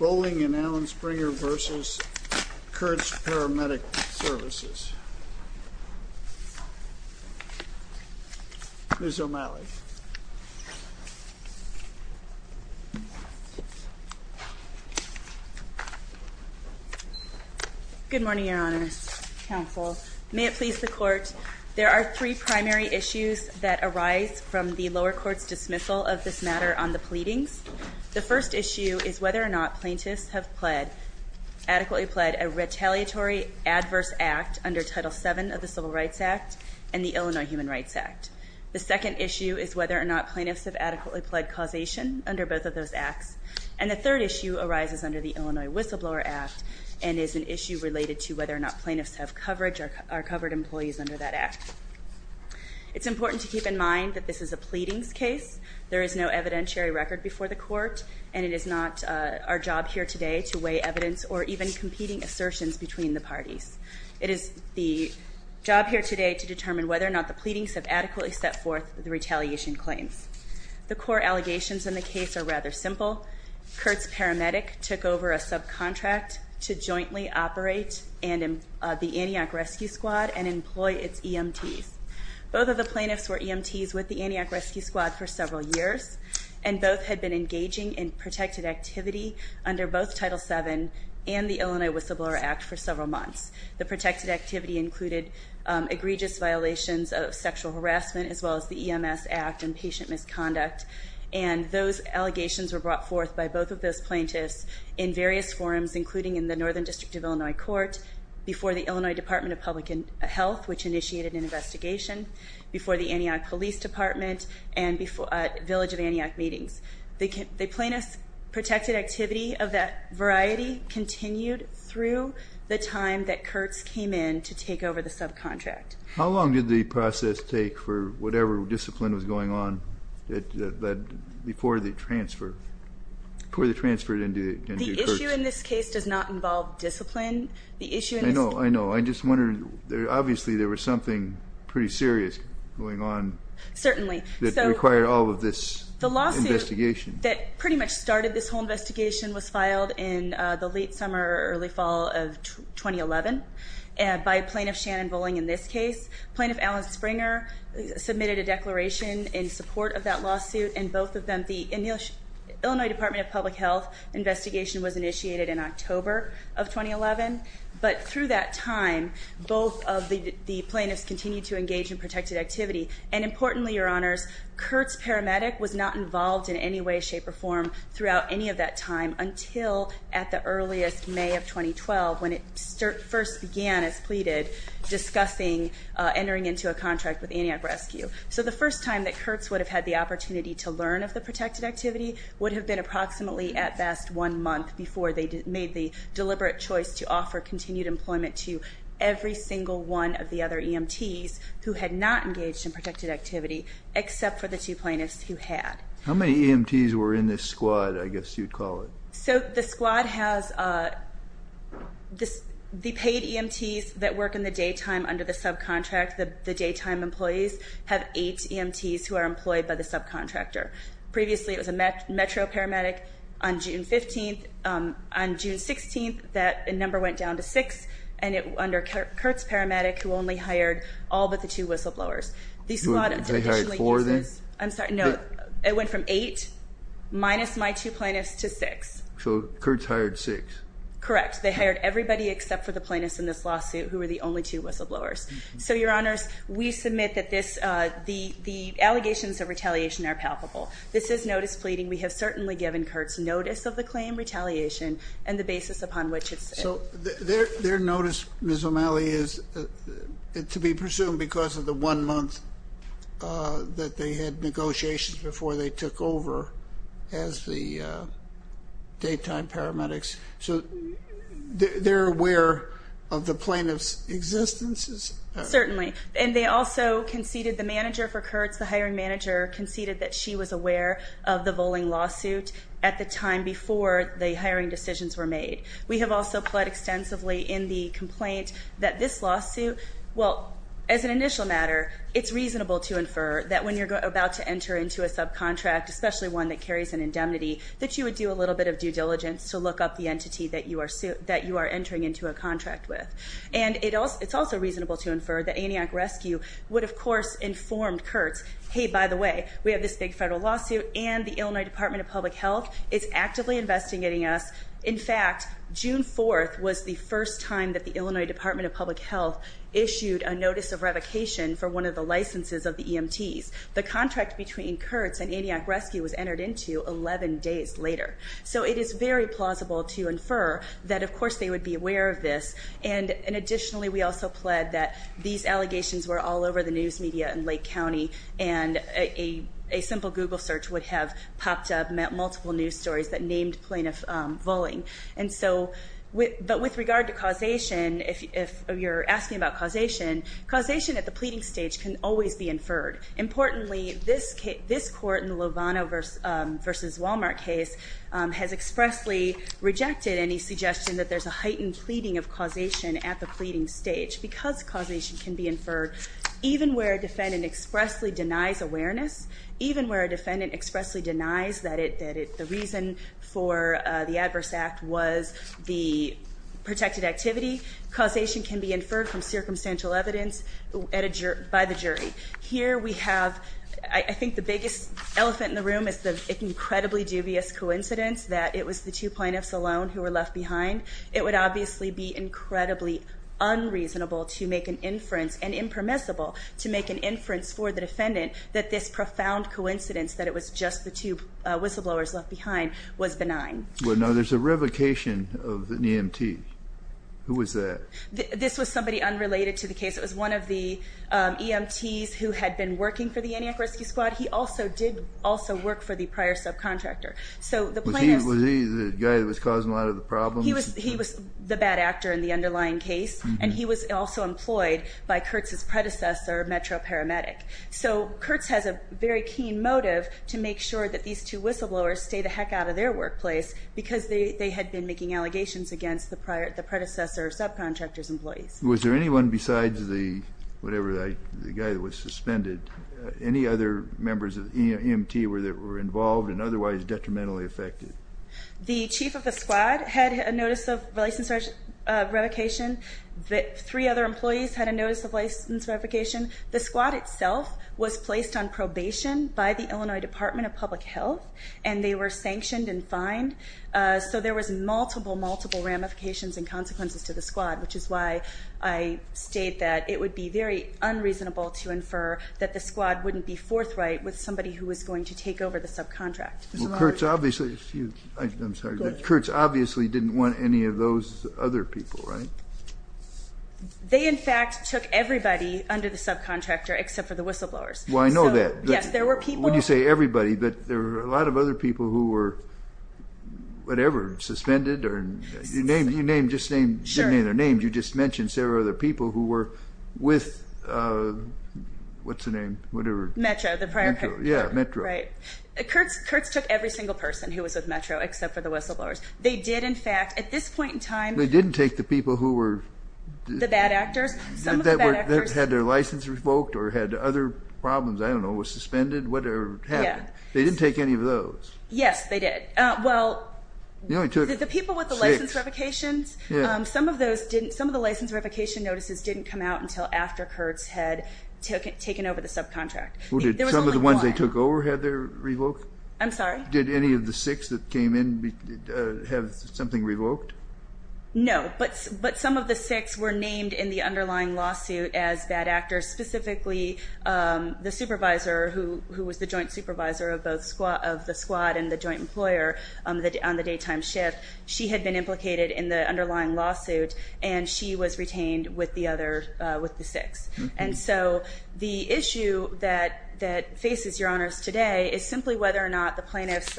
Ms. O'Malley Good morning, Your Honors, Counsel. May it please the Court, there are three primary issues that arise from the lower court's dismissal of this matter on the pleadings. The first issue is whether or not plaintiffs have adequately pled a retaliatory adverse act under Title VII of the Civil Rights Act and the Illinois Human Rights Act. The second issue is whether or not plaintiffs have adequately pled causation under both of those acts. And the third issue arises under the Illinois Whistleblower Act and is an issue related to whether or not plaintiffs have coverage or are covered employees under that act. It's important to keep in mind that this is a pleadings case. There is no evidentiary record before the Court and it is not our job here today to weigh evidence or even competing assertions between the parties. It is the job here today to determine whether or not the pleadings have adequately set forth the retaliation claims. The core allegations in the case are rather simple. Kurtz Paramedic took over a subcontract to jointly operate the Antioch Rescue Squad and employ its EMTs. Both of the plaintiffs were EMTs with the Antioch Rescue Squad for several years and both had been engaging in protected activity under both Title VII and the Illinois Whistleblower Act for several months. The protected activity included egregious violations of sexual harassment as well as the EMS Act and patient misconduct. And those allegations were brought forth by both of those plaintiffs in various forms including in the Northern District of Illinois Court, before the Illinois Department of Public Health which initiated an investigation, before the Antioch Police Department, and before Village of Antioch meetings. The plaintiff's protected activity of that variety continued through the time that Kurtz came in to take over the subcontract. How long did the process take for whatever discipline was going on before they transferred into Kurtz? The issue in this case does not involve discipline. I know, I know. I'm just wondering. Obviously there was something pretty serious going on that required all of this investigation. That pretty much started this whole investigation was filed in the late summer or early fall of 2011 by Plaintiff Shannon Bowling in this case. Plaintiff Alan Springer submitted a declaration in support of that lawsuit and both of them, the Illinois Department of Public Health investigation was initiated in October of 2011. But through that time, both of the plaintiffs continued to engage in protected activity. And importantly, your honors, Kurtz Paramedic was not involved in any way, shape, or form throughout any of that time until at the earliest May of 2012 when it first began, as pleaded, discussing entering into a contract with Antioch Rescue. So the first time that Kurtz would have had the opportunity to learn of the protected activity would have been approximately at best one month before they made the deliberate choice to offer continued employment to every single one of the other EMTs who had not engaged in protected activity, except for the two plaintiffs who had. How many EMTs were in this squad, I guess you'd call it? So the squad has the paid EMTs that work in the daytime under the subcontract. The daytime employees have eight EMTs who are employed by the subcontractor. Previously, it was a Metro Paramedic on June 15th. On June 16th, that number went down to six. And under Kurtz Paramedic, who only hired all but the two whistleblowers. They hired four then? I'm sorry, no. It went from eight minus my two plaintiffs to six. So Kurtz hired six. Correct. They hired everybody except for the plaintiffs in this lawsuit who were the only two whistleblowers. So, Your Honors, we submit that the allegations of retaliation are palpable. This is notice pleading. We have certainly given Kurtz notice of the claim, retaliation, and the basis upon which it's. So their notice, Ms. O'Malley, is to be presumed because of the one month that they had negotiations before they took over as the daytime paramedics. So they're aware of the plaintiff's existence? Certainly. And they also conceded, the manager for Kurtz, the hiring manager, conceded that she was aware of the Voling lawsuit at the time before the hiring decisions were made. We have also pled extensively in the complaint that this lawsuit, well, as an initial matter, it's reasonable to infer that when you're about to enter into a subcontract, especially one that carries an indemnity, that you would do a little bit of due diligence to look up the entity that you are entering into a contract with. And it's also reasonable to infer that Antioch Rescue would, of course, inform Kurtz, hey, by the way, we have this big federal lawsuit, and the Illinois Department of Public Health is actively investigating us. In fact, June 4th was the first time that the Illinois Department of Public Health issued a notice of revocation for one of the licenses of the EMTs. The contract between Kurtz and Antioch Rescue was entered into 11 days later. So it is very plausible to infer that, of course, they would be aware of this. And additionally, we also pled that these allegations were all over the news media in Lake County, and a simple Google search would have popped up multiple news stories that named plaintiff Voling. But with regard to causation, if you're asking about causation, causation at the pleading stage can always be inferred. Importantly, this court in the Lovano v. Walmart case has expressly rejected any suggestion that there's a heightened pleading of causation at the pleading stage, because causation can be inferred even where a defendant expressly denies awareness, even where a defendant expressly denies that the reason for the adverse act was the protected activity. Causation can be inferred from circumstantial evidence by the jury. Here we have, I think the biggest elephant in the room is the incredibly dubious coincidence that it was the two plaintiffs alone who were left behind. It would obviously be incredibly unreasonable to make an inference, and impermissible to make an inference for the defendant, that this profound coincidence that it was just the two whistleblowers left behind was benign. Well, no, there's a revocation of an EMT. Who was that? This was somebody unrelated to the case. It was one of the EMTs who had been working for the Antioch Rescue Squad. He also did also work for the prior subcontractor. Was he the guy that was causing a lot of the problems? He was the bad actor in the underlying case, and he was also employed by Kurtz's predecessor, Metro Paramedic. So Kurtz has a very keen motive to make sure that these two whistleblowers stay the heck out of their workplace, because they had been making allegations against the predecessor subcontractor's employees. Was there anyone besides the guy that was suspended, any other members of the EMT that were involved and otherwise detrimentally affected? The chief of the squad had a notice of license revocation. Three other employees had a notice of license revocation. The squad itself was placed on probation by the Illinois Department of Public Health, and they were sanctioned and fined. So there was multiple, multiple ramifications and consequences to the squad, which is why I state that it would be very unreasonable to infer that the squad wouldn't be forthright with somebody who was going to take over the subcontract. Well, Kurtz obviously didn't want any of those other people, right? They, in fact, took everybody under the subcontractor except for the whistleblowers. Well, I know that. Yes, there were people. Well, when you say everybody, but there were a lot of other people who were, whatever, suspended. You named, just named, didn't name their names. You just mentioned several other people who were with, what's the name, whatever. Metro, the prior. Yeah, Metro. Right. Kurtz took every single person who was with Metro except for the whistleblowers. They did, in fact, at this point in time. They didn't take the people who were. The bad actors. Some of the bad actors. Had their license revoked or had other problems. I don't know. Was suspended. Whatever happened. They didn't take any of those. Yes, they did. Well. You only took six. The people with the license revocations, some of those didn't, some of the license revocation notices didn't come out until after Kurtz had taken over the subcontract. There was only one. Some of the ones they took over had their revoked? I'm sorry? Did any of the six that came in have something revoked? No, but some of the six were named in the underlying lawsuit as bad actors. Specifically, the supervisor who was the joint supervisor of the squad and the joint employer on the daytime shift. She had been implicated in the underlying lawsuit, and she was retained with the six. And so the issue that faces your honors today is simply whether or not the plaintiffs,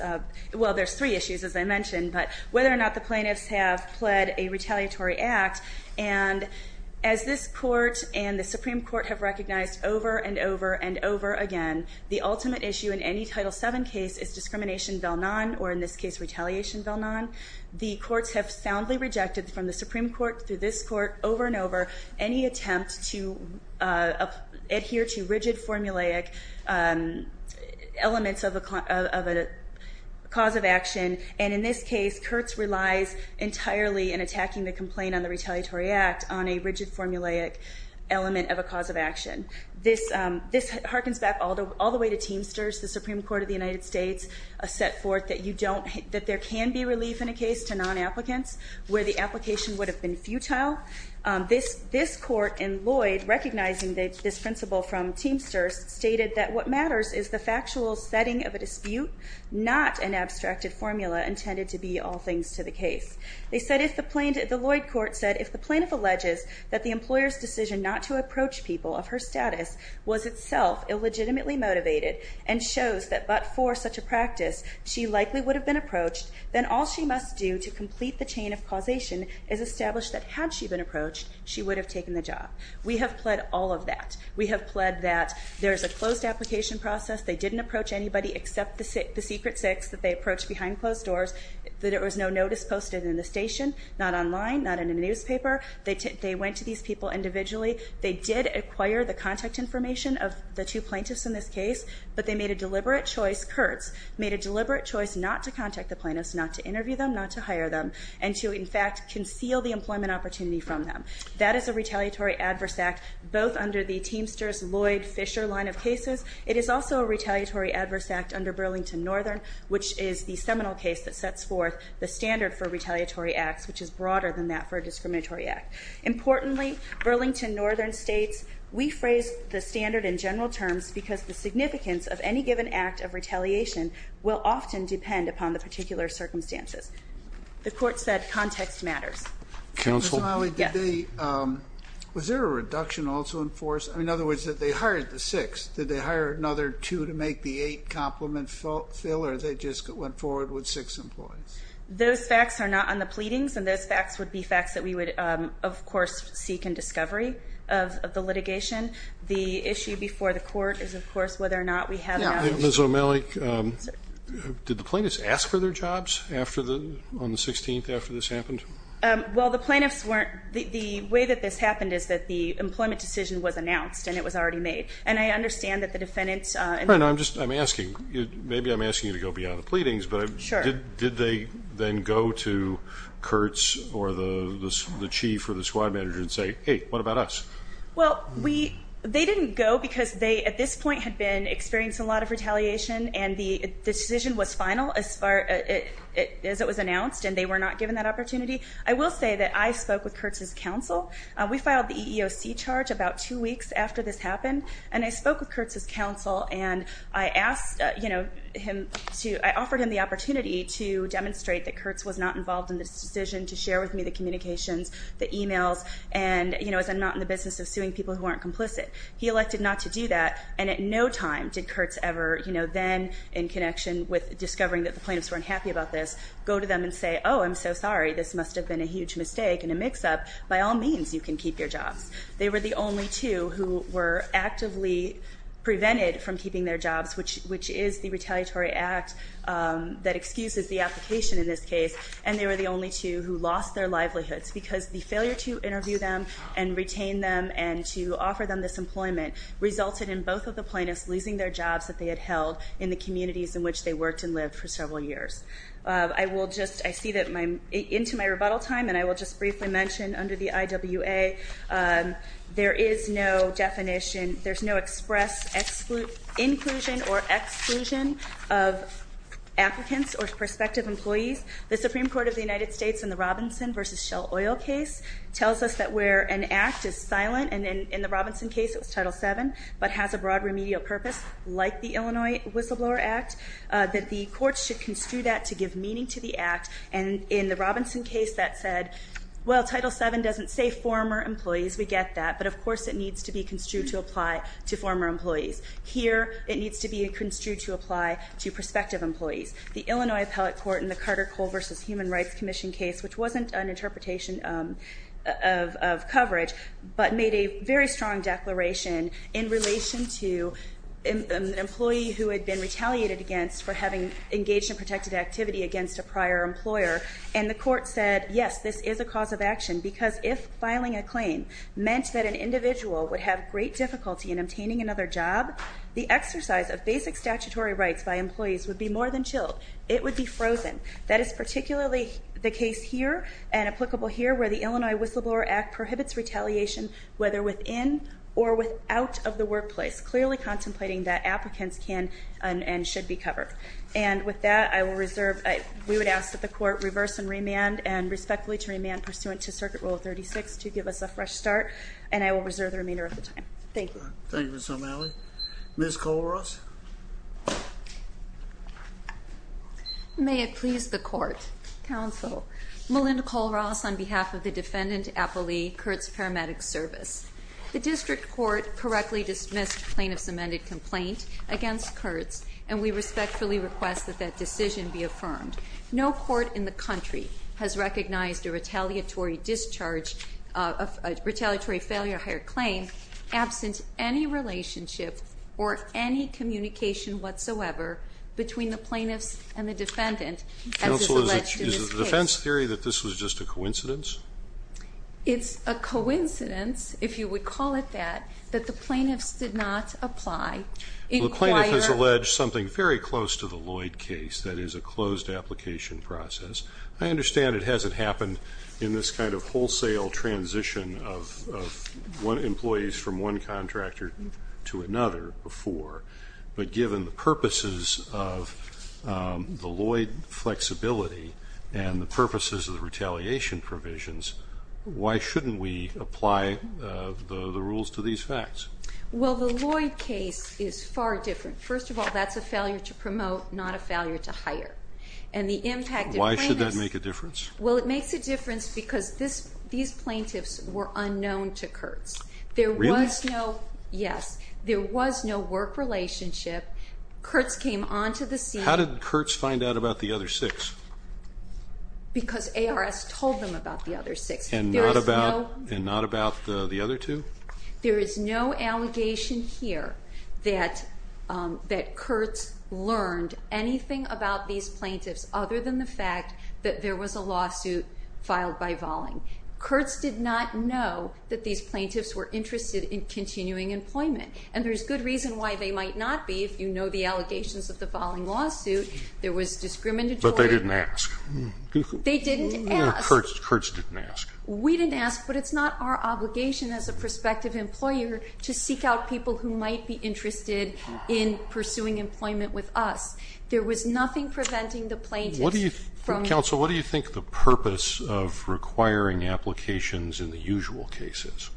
well, there's three issues, as I mentioned. But whether or not the plaintiffs have pled a retaliatory act, and as this court and the Supreme Court have recognized over and over and over again, the ultimate issue in any Title VII case is discrimination vel non, or in this case, retaliation vel non. The courts have soundly rejected from the Supreme Court through this court over and over any attempt to adhere to rigid formulaic elements of a cause of action. And in this case, Kurtz relies entirely in attacking the complaint on the retaliatory act on a rigid formulaic element of a cause of action. This harkens back all the way to Teamsters. The Supreme Court of the United States set forth that there can be relief in a case to non-applicants where the application would have been futile. This court in Lloyd, recognizing this principle from Teamsters, stated that what matters is the factual setting of a dispute, not an abstracted formula intended to be all things to the case. They said, the Lloyd court said, if the plaintiff alleges that the employer's decision not to approach people of her status was itself illegitimately motivated and shows that but for such a practice, she likely would have been approached, then all she must do to complete the chain of causation is establish that had she been approached, she would have taken the job. We have pled all of that. We have pled that there's a closed application process. They didn't approach anybody except the secret six that they approached behind closed doors, that there was no notice posted in the station, not online, not in a newspaper. They went to these people individually. They did acquire the contact information of the two plaintiffs in this case, but they made a deliberate choice, Kurtz, made a deliberate choice not to contact the plaintiffs, not to interview them, not to hire them, and to, in fact, conceal the employment opportunity from them. That is a retaliatory adverse act, both under the Teamsters-Lloyd-Fisher line of cases. It is also a retaliatory adverse act under Burlington Northern, which is the seminal case that sets forth the standard for retaliatory acts, which is broader than that for a discriminatory act. Importantly, Burlington Northern states, we phrase the standard in general terms because the significance of any given act of retaliation will often depend upon the particular circumstances. The court said context matters. Counsel? Yes. Was there a reduction also in force? In other words, that they hired the six. Did they hire another two to make the eight complement fill, or they just went forward with six employees? Those facts are not on the pleadings, and those facts would be facts that we would, of course, seek in discovery of the litigation. The issue before the court is, of course, whether or not we have an outage. Ms. O'Malley, did the plaintiffs ask for their jobs on the 16th after this happened? Well, the plaintiffs weren't. The way that this happened is that the employment decision was announced, and it was already made. And I understand that the defendants – No, no, I'm just asking. Maybe I'm asking you to go beyond the pleadings. Sure. Did they then go to Kurtz or the chief or the squad manager and say, hey, what about us? Well, they didn't go because they, at this point, had been experiencing a lot of retaliation, and the decision was final as far as it was announced, and they were not given that opportunity. I will say that I spoke with Kurtz's counsel. We filed the EEOC charge about two weeks after this happened, and I spoke with Kurtz's counsel, and I offered him the opportunity to demonstrate that Kurtz was not involved in this decision, to share with me the communications, the e-mails, and, you know, as I'm not in the business of suing people who aren't complicit. He elected not to do that, and at no time did Kurtz ever, you know, then in connection with discovering that the plaintiffs weren't happy about this, go to them and say, oh, I'm so sorry. This must have been a huge mistake and a mix-up. By all means, you can keep your jobs. They were the only two who were actively prevented from keeping their jobs, which is the retaliatory act that excuses the application in this case, and they were the only two who lost their livelihoods because the failure to interview them and retain them and to offer them this employment resulted in both of the plaintiffs losing their jobs that they had held in the communities in which they worked and lived for several years. I will just, I see that into my rebuttal time, and I will just briefly mention under the IWA, there is no definition, there's no express inclusion or exclusion of applicants or prospective employees. The Supreme Court of the United States in the Robinson v. Shell Oil case tells us that where an act is silent, and in the Robinson case it was Title VII, but has a broad remedial purpose like the Illinois Whistleblower Act, that the courts should construe that to give meaning to the act, and in the Robinson case that said, well, Title VII doesn't say former employees, we get that, but of course it needs to be construed to apply to former employees. Here, it needs to be construed to apply to prospective employees. The Illinois Appellate Court in the Carter Cole v. Human Rights Commission case, which wasn't an interpretation of coverage, but made a very strong declaration in relation to an employee who had been retaliated against for having engaged in protected activity against a prior employer, and the court said, yes, this is a cause of action, because if filing a claim meant that an individual would have great difficulty in obtaining another job, the exercise of basic statutory rights by employees would be more than chilled. It would be frozen. That is particularly the case here, and applicable here, where the Illinois Whistleblower Act prohibits retaliation, whether within or without of the workplace, clearly contemplating that applicants can and should be covered. And with that, I will reserve, we would ask that the court reverse and remand, and respectfully to remand pursuant to Circuit Rule 36 to give us a fresh start, and I will reserve the remainder of the time. Thank you. Thank you, Ms. O'Malley. Ms. Kohlross? May it please the court. Counsel. Melinda Kohlross on behalf of the defendant, Apolli, Kurtz Paramedic Service. The district court correctly dismissed plaintiff's amended complaint against Kurtz, and we respectfully request that that decision be affirmed. No court in the country has recognized a retaliatory discharge, a retaliatory failure hire claim absent any relationship or any communication whatsoever between the plaintiff and the defendant as is alleged in this case. Counsel, is it defense theory that this was just a coincidence? It's a coincidence, if you would call it that, that the plaintiffs did not apply. The plaintiff has alleged something very close to the Lloyd case, that is, a closed application process. I understand it hasn't happened in this kind of wholesale transition of employees from one contractor to another before, but given the purposes of the Lloyd flexibility and the purposes of the retaliation provisions, why shouldn't we apply the rules to these facts? Well, the Lloyd case is far different. First of all, that's a failure to promote, not a failure to hire. Why should that make a difference? Well, it makes a difference because these plaintiffs were unknown to Kurtz. Really? Yes. There was no work relationship. Kurtz came onto the scene. How did Kurtz find out about the other six? Because ARS told them about the other six. And not about the other two? There is no allegation here that Kurtz learned anything about these plaintiffs other than the fact that there was a lawsuit filed by Volling. Kurtz did not know that these plaintiffs were interested in continuing employment. And there's good reason why they might not be. If you know the allegations of the Volling lawsuit, there was discriminatory. But they didn't ask. They didn't ask. Kurtz didn't ask. We didn't ask, but it's not our obligation as a prospective employer to seek out people who might be interested in pursuing employment with us. There was nothing preventing the plaintiffs. Counsel, what do you think the purpose of requiring applications in the usual cases?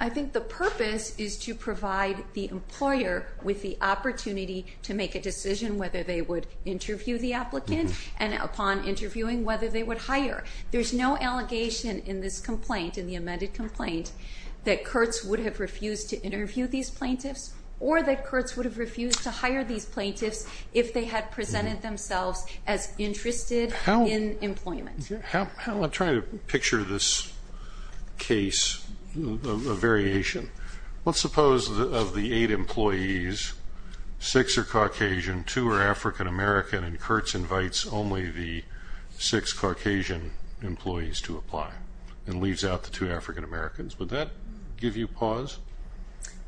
I think the purpose is to provide the employer with the opportunity to make a decision whether they would interview the applicant and upon interviewing whether they would hire. There's no allegation in this complaint, in the amended complaint, that Kurtz would have refused to interview these plaintiffs or that Kurtz would have refused to hire these plaintiffs if they had presented themselves as interested in employment. I'm trying to picture this case, a variation. Let's suppose of the eight employees, six are Caucasian, two are African American, and Kurtz invites only the six Caucasian employees to apply and leaves out the two African Americans. Would that give you pause?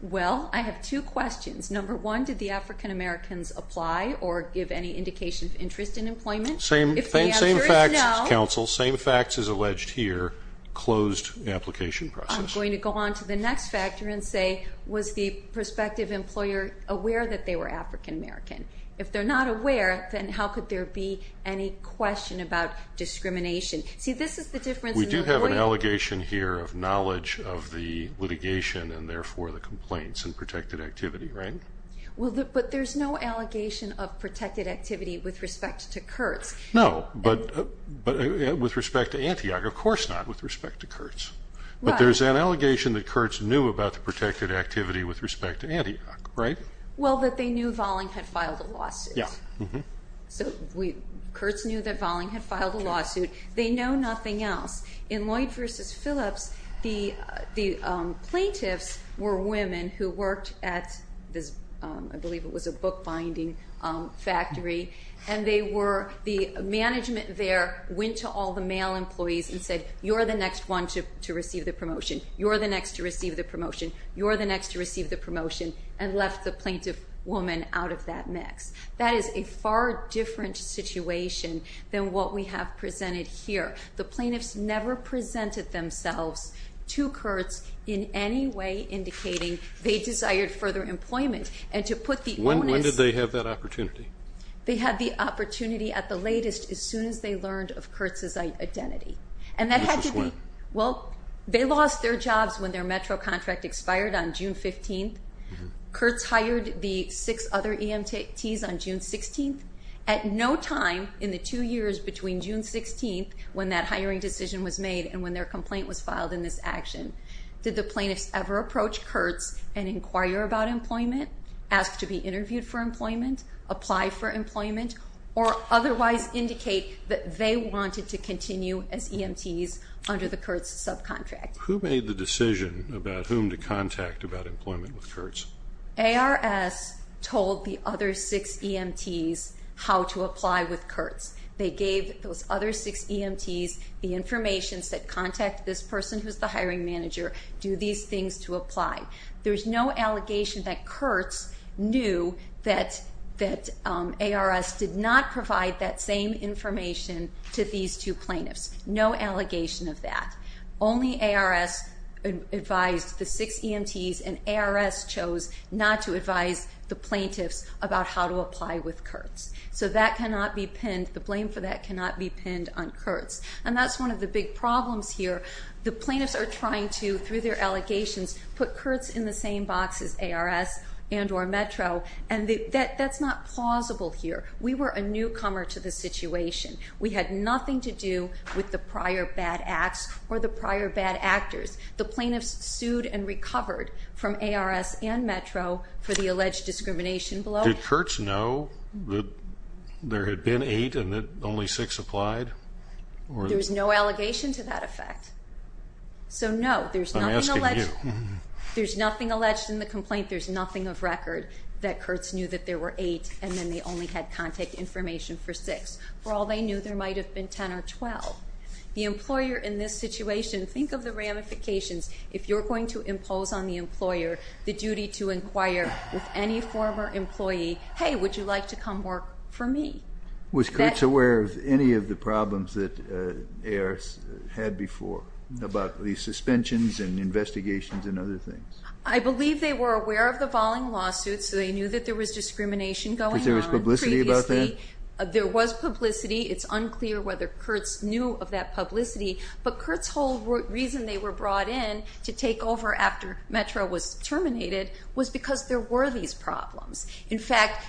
Well, I have two questions. Number one, did the African Americans apply or give any indication of interest in employment? Same facts, counsel. If the answer is no. Same facts as alleged here, closed application process. I'm going to go on to the next factor and say, was the prospective employer aware that they were African American? If they're not aware, then how could there be any question about discrimination? We do have an allegation here of knowledge of the litigation and, therefore, the complaints and protected activity, right? But there's no allegation of protected activity with respect to Kurtz. No, but with respect to Antioch, of course not with respect to Kurtz. But there's an allegation that Kurtz knew about the protected activity with respect to Antioch, right? Well, that they knew Valling had filed a lawsuit. So Kurtz knew that Valling had filed a lawsuit. They know nothing else. In Lloyd v. Phillips, the plaintiffs were women who worked at this, I believe it was a bookbinding factory, and the management there went to all the male employees and said, you're the next one to receive the promotion, you're the next to receive the promotion, you're the next to receive the promotion, and left the plaintiff woman out of that mix. That is a far different situation than what we have presented here. The plaintiffs never presented themselves to Kurtz in any way indicating they desired further employment. And to put the onus. When did they have that opportunity? They had the opportunity at the latest as soon as they learned of Kurtz's identity. And that had to be. Which was when? Well, they lost their jobs when their metro contract expired on June 15th. Kurtz hired the six other EMTs on June 16th. At no time in the two years between June 16th when that hiring decision was made and when their complaint was filed in this action did the plaintiffs ever approach Kurtz and inquire about employment, ask to be interviewed for employment, apply for employment, or otherwise indicate that they wanted to continue as EMTs under the Kurtz subcontract. Who made the decision about whom to contact about employment with Kurtz? ARS told the other six EMTs how to apply with Kurtz. They gave those other six EMTs the information, said contact this person who's the hiring manager, do these things to apply. There's no allegation that Kurtz knew that ARS did not provide that same information to these two plaintiffs. No allegation of that. Only ARS advised the six EMTs and ARS chose not to advise the plaintiffs about how to apply with Kurtz. So that cannot be pinned, the blame for that cannot be pinned on Kurtz. And that's one of the big problems here. The plaintiffs are trying to, through their allegations, put Kurtz in the same box as ARS and or Metro, and that's not plausible here. We were a newcomer to the situation. We had nothing to do with the prior bad acts or the prior bad actors. The plaintiffs sued and recovered from ARS and Metro for the alleged discrimination below. Did Kurtz know that there had been eight and that only six applied? There's no allegation to that effect. So, no, there's nothing alleged. There's nothing alleged in the complaint. There's nothing of record that Kurtz knew that there were eight and then they only had contact information for six. For all they knew, there might have been 10 or 12. The employer in this situation, think of the ramifications. If you're going to impose on the employer the duty to inquire with any former employee, hey, would you like to come work for me? Was Kurtz aware of any of the problems that ARS had before about the suspensions and investigations and other things? I believe they were aware of the volleying lawsuit, so they knew that there was discrimination going on previously. Because there was publicity about that? There was publicity. It's unclear whether Kurtz knew of that publicity, but Kurtz's whole reason they were brought in to take over after Metro was terminated was because there were these problems. In fact,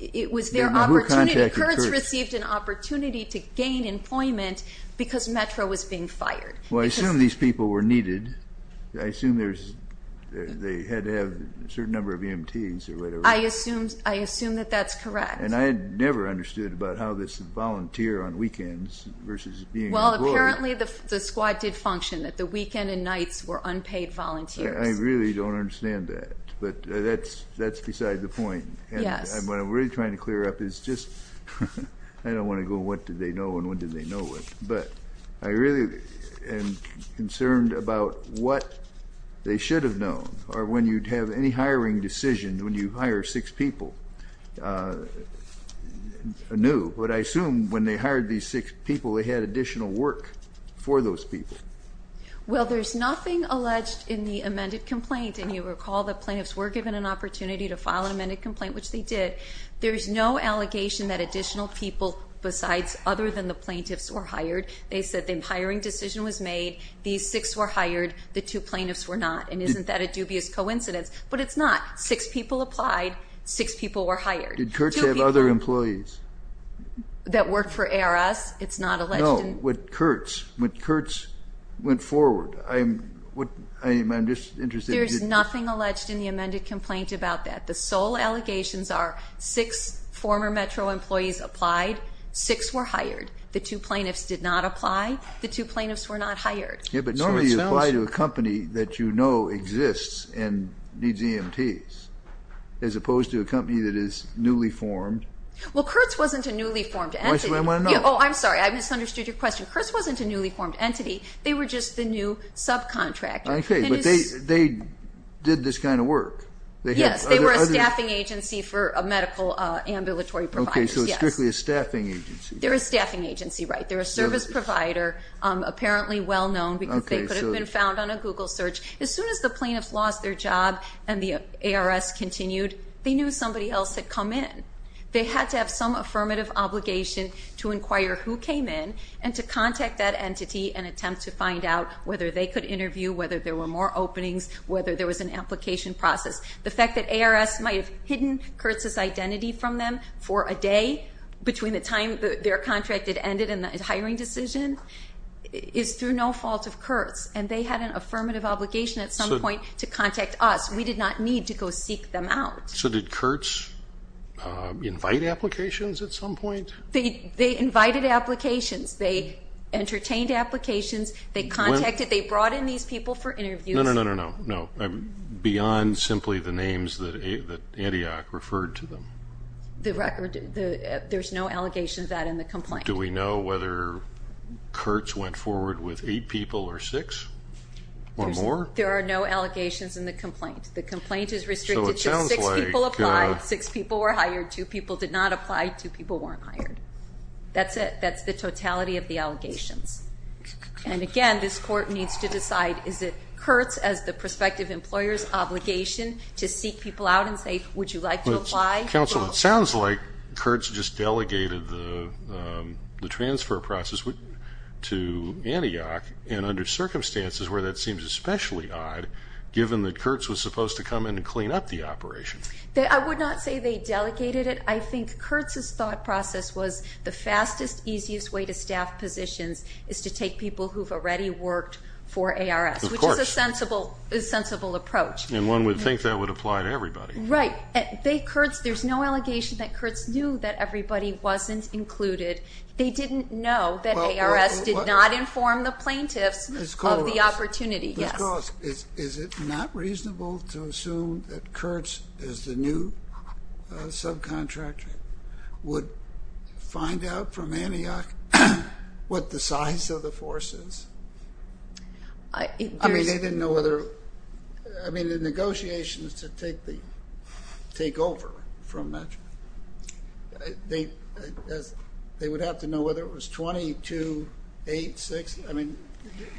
it was their opportunity. Kurtz received an opportunity to gain employment because Metro was being fired. Well, I assume these people were needed. I assume they had to have a certain number of EMTs or whatever. I assume that that's correct. And I had never understood about how this volunteer on weekends versus being employed. Well, apparently the squad did function, that the weekend and nights were unpaid volunteers. I really don't understand that. But that's beside the point. Yes. And what I'm really trying to clear up is just I don't want to go what did they know and what did they know what. But I really am concerned about what they should have known or when you'd have any hiring decision when you hire six people. But I assume when they hired these six people, they had additional work for those people. Well, there's nothing alleged in the amended complaint. And you recall the plaintiffs were given an opportunity to file an amended complaint, which they did. There's no allegation that additional people besides other than the plaintiffs were hired. They said the hiring decision was made. These six were hired. The two plaintiffs were not. And isn't that a dubious coincidence? But it's not. Six people applied. Six people were hired. Did Kurtz have other employees? That worked for ARS. It's not alleged. No. But Kurtz went forward. I'm just interested. There's nothing alleged in the amended complaint about that. The sole allegations are six former Metro employees applied. Six were hired. The two plaintiffs did not apply. The two plaintiffs were not hired. Yeah, but normally you apply to a company that you know exists and needs EMTs as opposed to a company that is newly formed. Well, Kurtz wasn't a newly formed entity. Oh, I'm sorry. I misunderstood your question. Kurtz wasn't a newly formed entity. They were just the new subcontractor. Okay, but they did this kind of work. Yes, they were a staffing agency for a medical ambulatory provider. Okay, so it's strictly a staffing agency. They're a staffing agency, right. They're a service provider, apparently well-known because they could have been found on a Google search. As soon as the plaintiffs lost their job and the ARS continued, they knew somebody else had come in. They had to have some affirmative obligation to inquire who came in and to contact that entity and attempt to find out whether they could interview, whether there were more openings, whether there was an application process. The fact that ARS might have hidden Kurtz's identity from them for a day between the time their contract had ended and the hiring decision is through no fault of Kurtz, and they had an affirmative obligation at some point to contact us. We did not need to go seek them out. So did Kurtz invite applications at some point? They invited applications. They entertained applications. They contacted, they brought in these people for interviews. No, no, no, no, no, beyond simply the names that Antioch referred to them. There's no allegations of that in the complaint. Do we know whether Kurtz went forward with eight people or six or more? There are no allegations in the complaint. The complaint is restricted to six people applied, six people were hired, two people did not apply, two people weren't hired. That's it. That's the totality of the allegations. And, again, this court needs to decide is it Kurtz as the prospective employer's obligation to seek people out and say, would you like to apply? Counsel, it sounds like Kurtz just delegated the transfer process to Antioch, and under circumstances where that seems especially odd, given that Kurtz was supposed to come in and clean up the operation. I would not say they delegated it. I think Kurtz's thought process was the fastest, easiest way to staff positions is to take people who've already worked for ARS, which is a sensible approach. And one would think that would apply to everybody. Right. Kurtz, there's no allegation that Kurtz knew that everybody wasn't included. They didn't know that ARS did not inform the plaintiffs of the opportunity. Ms. Coloss. Yes. Ms. Coloss, is it not reasonable to assume that Kurtz, as the new subcontractor, would find out from Antioch what the size of the force is? I mean, they didn't know whether the negotiations to take over from Metro. They would have to know whether it was 22, 8, 6. I mean,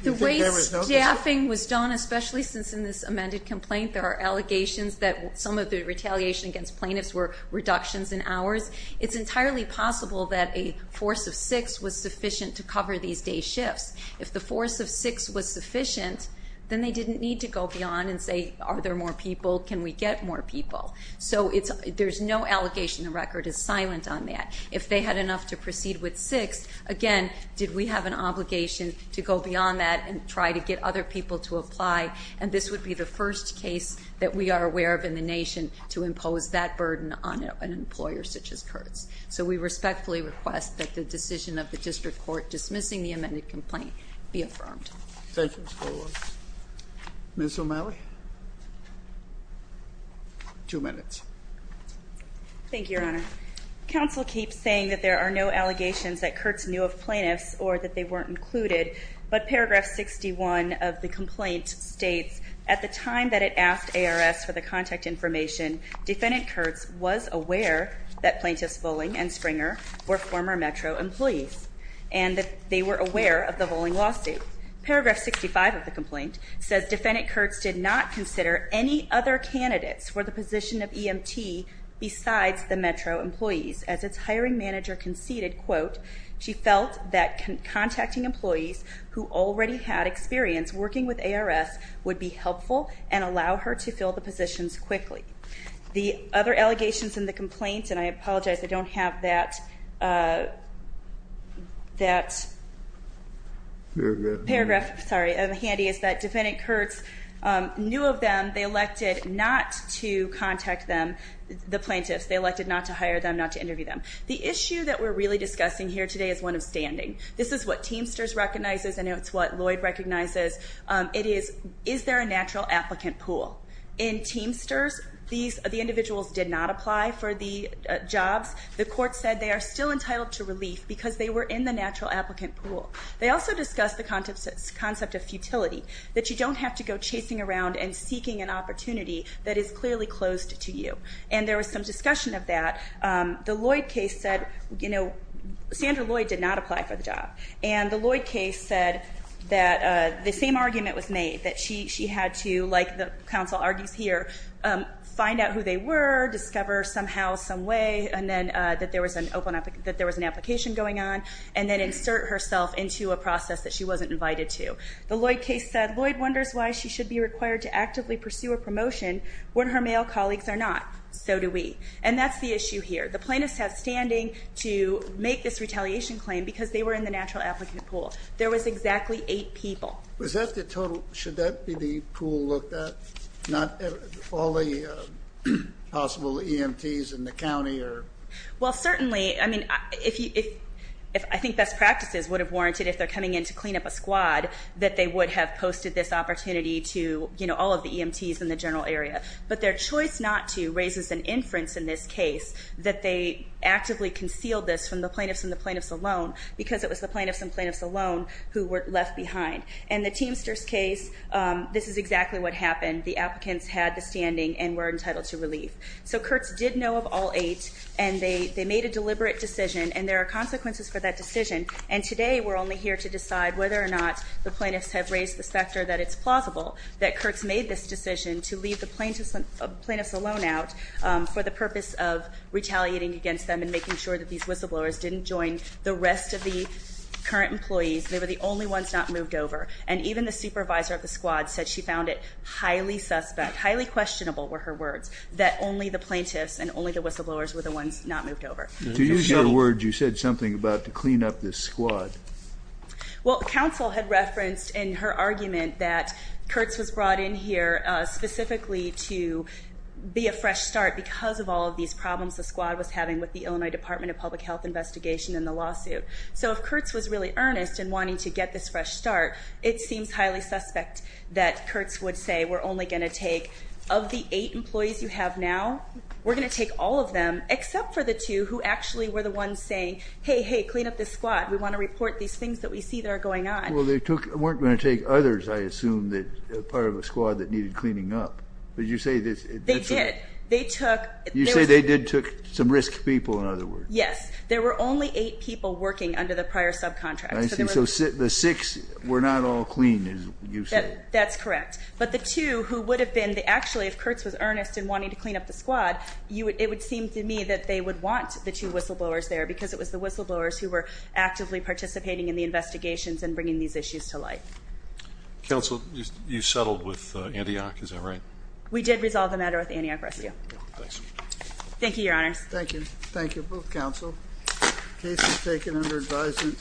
do you think there was notice? The way staffing was done, especially since in this amended complaint, there are allegations that some of the retaliation against plaintiffs were reductions in hours. It's entirely possible that a force of six was sufficient to cover these day shifts. If the force of six was sufficient, then they didn't need to go beyond and say, are there more people? Can we get more people? So there's no allegation. The record is silent on that. If they had enough to proceed with six, again, did we have an obligation to go beyond that and try to get other people to apply? And this would be the first case that we are aware of in the nation to impose that burden on an employer such as Kurtz. So we respectfully request that the decision of the district court dismissing the amended complaint be affirmed. Thank you, Ms. Coloss. Ms. O'Malley. Two minutes. Thank you, Your Honor. Counsel keeps saying that there are no allegations that Kurtz knew of plaintiffs or that they weren't included, but paragraph 61 of the complaint states, at the time that it asked ARS for the contact information, defendant Kurtz was aware that plaintiffs Voling and Springer were former Metro employees and that they were aware of the Voling lawsuit. Paragraph 65 of the complaint says, defendant Kurtz did not consider any other candidates for the position of EMT besides the Metro employees. As its hiring manager conceded, quote, she felt that contacting employees who already had experience working with ARS would be helpful and allow her to fill the positions quickly. The other allegations in the complaint, and I apologize, I don't have that. That paragraph, sorry, handy, is that defendant Kurtz knew of them. They elected not to contact them, the plaintiffs. They elected not to hire them, not to interview them. The issue that we're really discussing here today is one of standing. This is what Teamsters recognizes and it's what Lloyd recognizes. It is, is there a natural applicant pool? In Teamsters, the individuals did not apply for the jobs. The court said they are still entitled to relief because they were in the natural applicant pool. They also discussed the concept of futility, that you don't have to go chasing around and seeking an opportunity that is clearly closed to you. And there was some discussion of that. The Lloyd case said, you know, Sandra Lloyd did not apply for the job. And the Lloyd case said that the same argument was made, that she had to, like the counsel argues here, find out who they were, discover somehow, some way, and then that there was an open, that there was an application going on, and then insert herself into a process that she wasn't invited to. The Lloyd case said, Lloyd wonders why she should be required to actively pursue a promotion when her male colleagues are not. So do we. And that's the issue here. The plaintiffs have standing to make this retaliation claim because they were in the natural applicant pool. There was exactly eight people. Was that the total? Should that be the pool looked at? Not all the possible EMTs in the county? Well, certainly. I mean, I think best practices would have warranted, if they're coming in to clean up a squad, that they would have posted this opportunity to, you know, all of the EMTs in the general area. But their choice not to raises an inference in this case that they actively concealed this from the plaintiffs alone because it was the plaintiffs and plaintiffs alone who were left behind. In the Teamsters case, this is exactly what happened. The applicants had the standing and were entitled to relief. So Kurtz did know of all eight, and they made a deliberate decision, and there are consequences for that decision. And today we're only here to decide whether or not the plaintiffs have raised the specter that it's plausible that Kurtz made this decision to leave the plaintiffs alone out for the purpose of retaliating against them and making sure that these whistleblowers didn't join the rest of the current employees. They were the only ones not moved over. And even the supervisor of the squad said she found it highly suspect, highly questionable were her words, that only the plaintiffs and only the whistleblowers were the ones not moved over. To use your words, you said something about to clean up this squad. Well, counsel had referenced in her argument that Kurtz was brought in here specifically to be a fresh start because of all of these problems the squad was having with the Illinois Department of Public Health investigation and the lawsuit. So if Kurtz was really earnest in wanting to get this fresh start, it seems highly suspect that Kurtz would say we're only going to take, of the eight employees you have now, we're going to take all of them except for the two who actually were the ones saying, hey, hey, clean up this squad. We want to report these things that we see that are going on. Well, they weren't going to take others, I assume, as part of a squad that needed cleaning up. But you say this. They did. They took. You say they did took some risk people, in other words. Yes. There were only eight people working under the prior subcontract. I see. So the six were not all clean, as you say. That's correct. But the two who would have been, actually, if Kurtz was earnest in wanting to clean up the squad, it would seem to me that they would want the two whistleblowers there because it was the whistleblowers who were actively participating in the investigations and bringing these issues to light. Counsel, you settled with Antioch. Is that right? We did resolve the matter with Antioch Rescue. Thanks. Thank you, Your Honors. Thank you. Thank you, both counsel. The case is taken under advisement.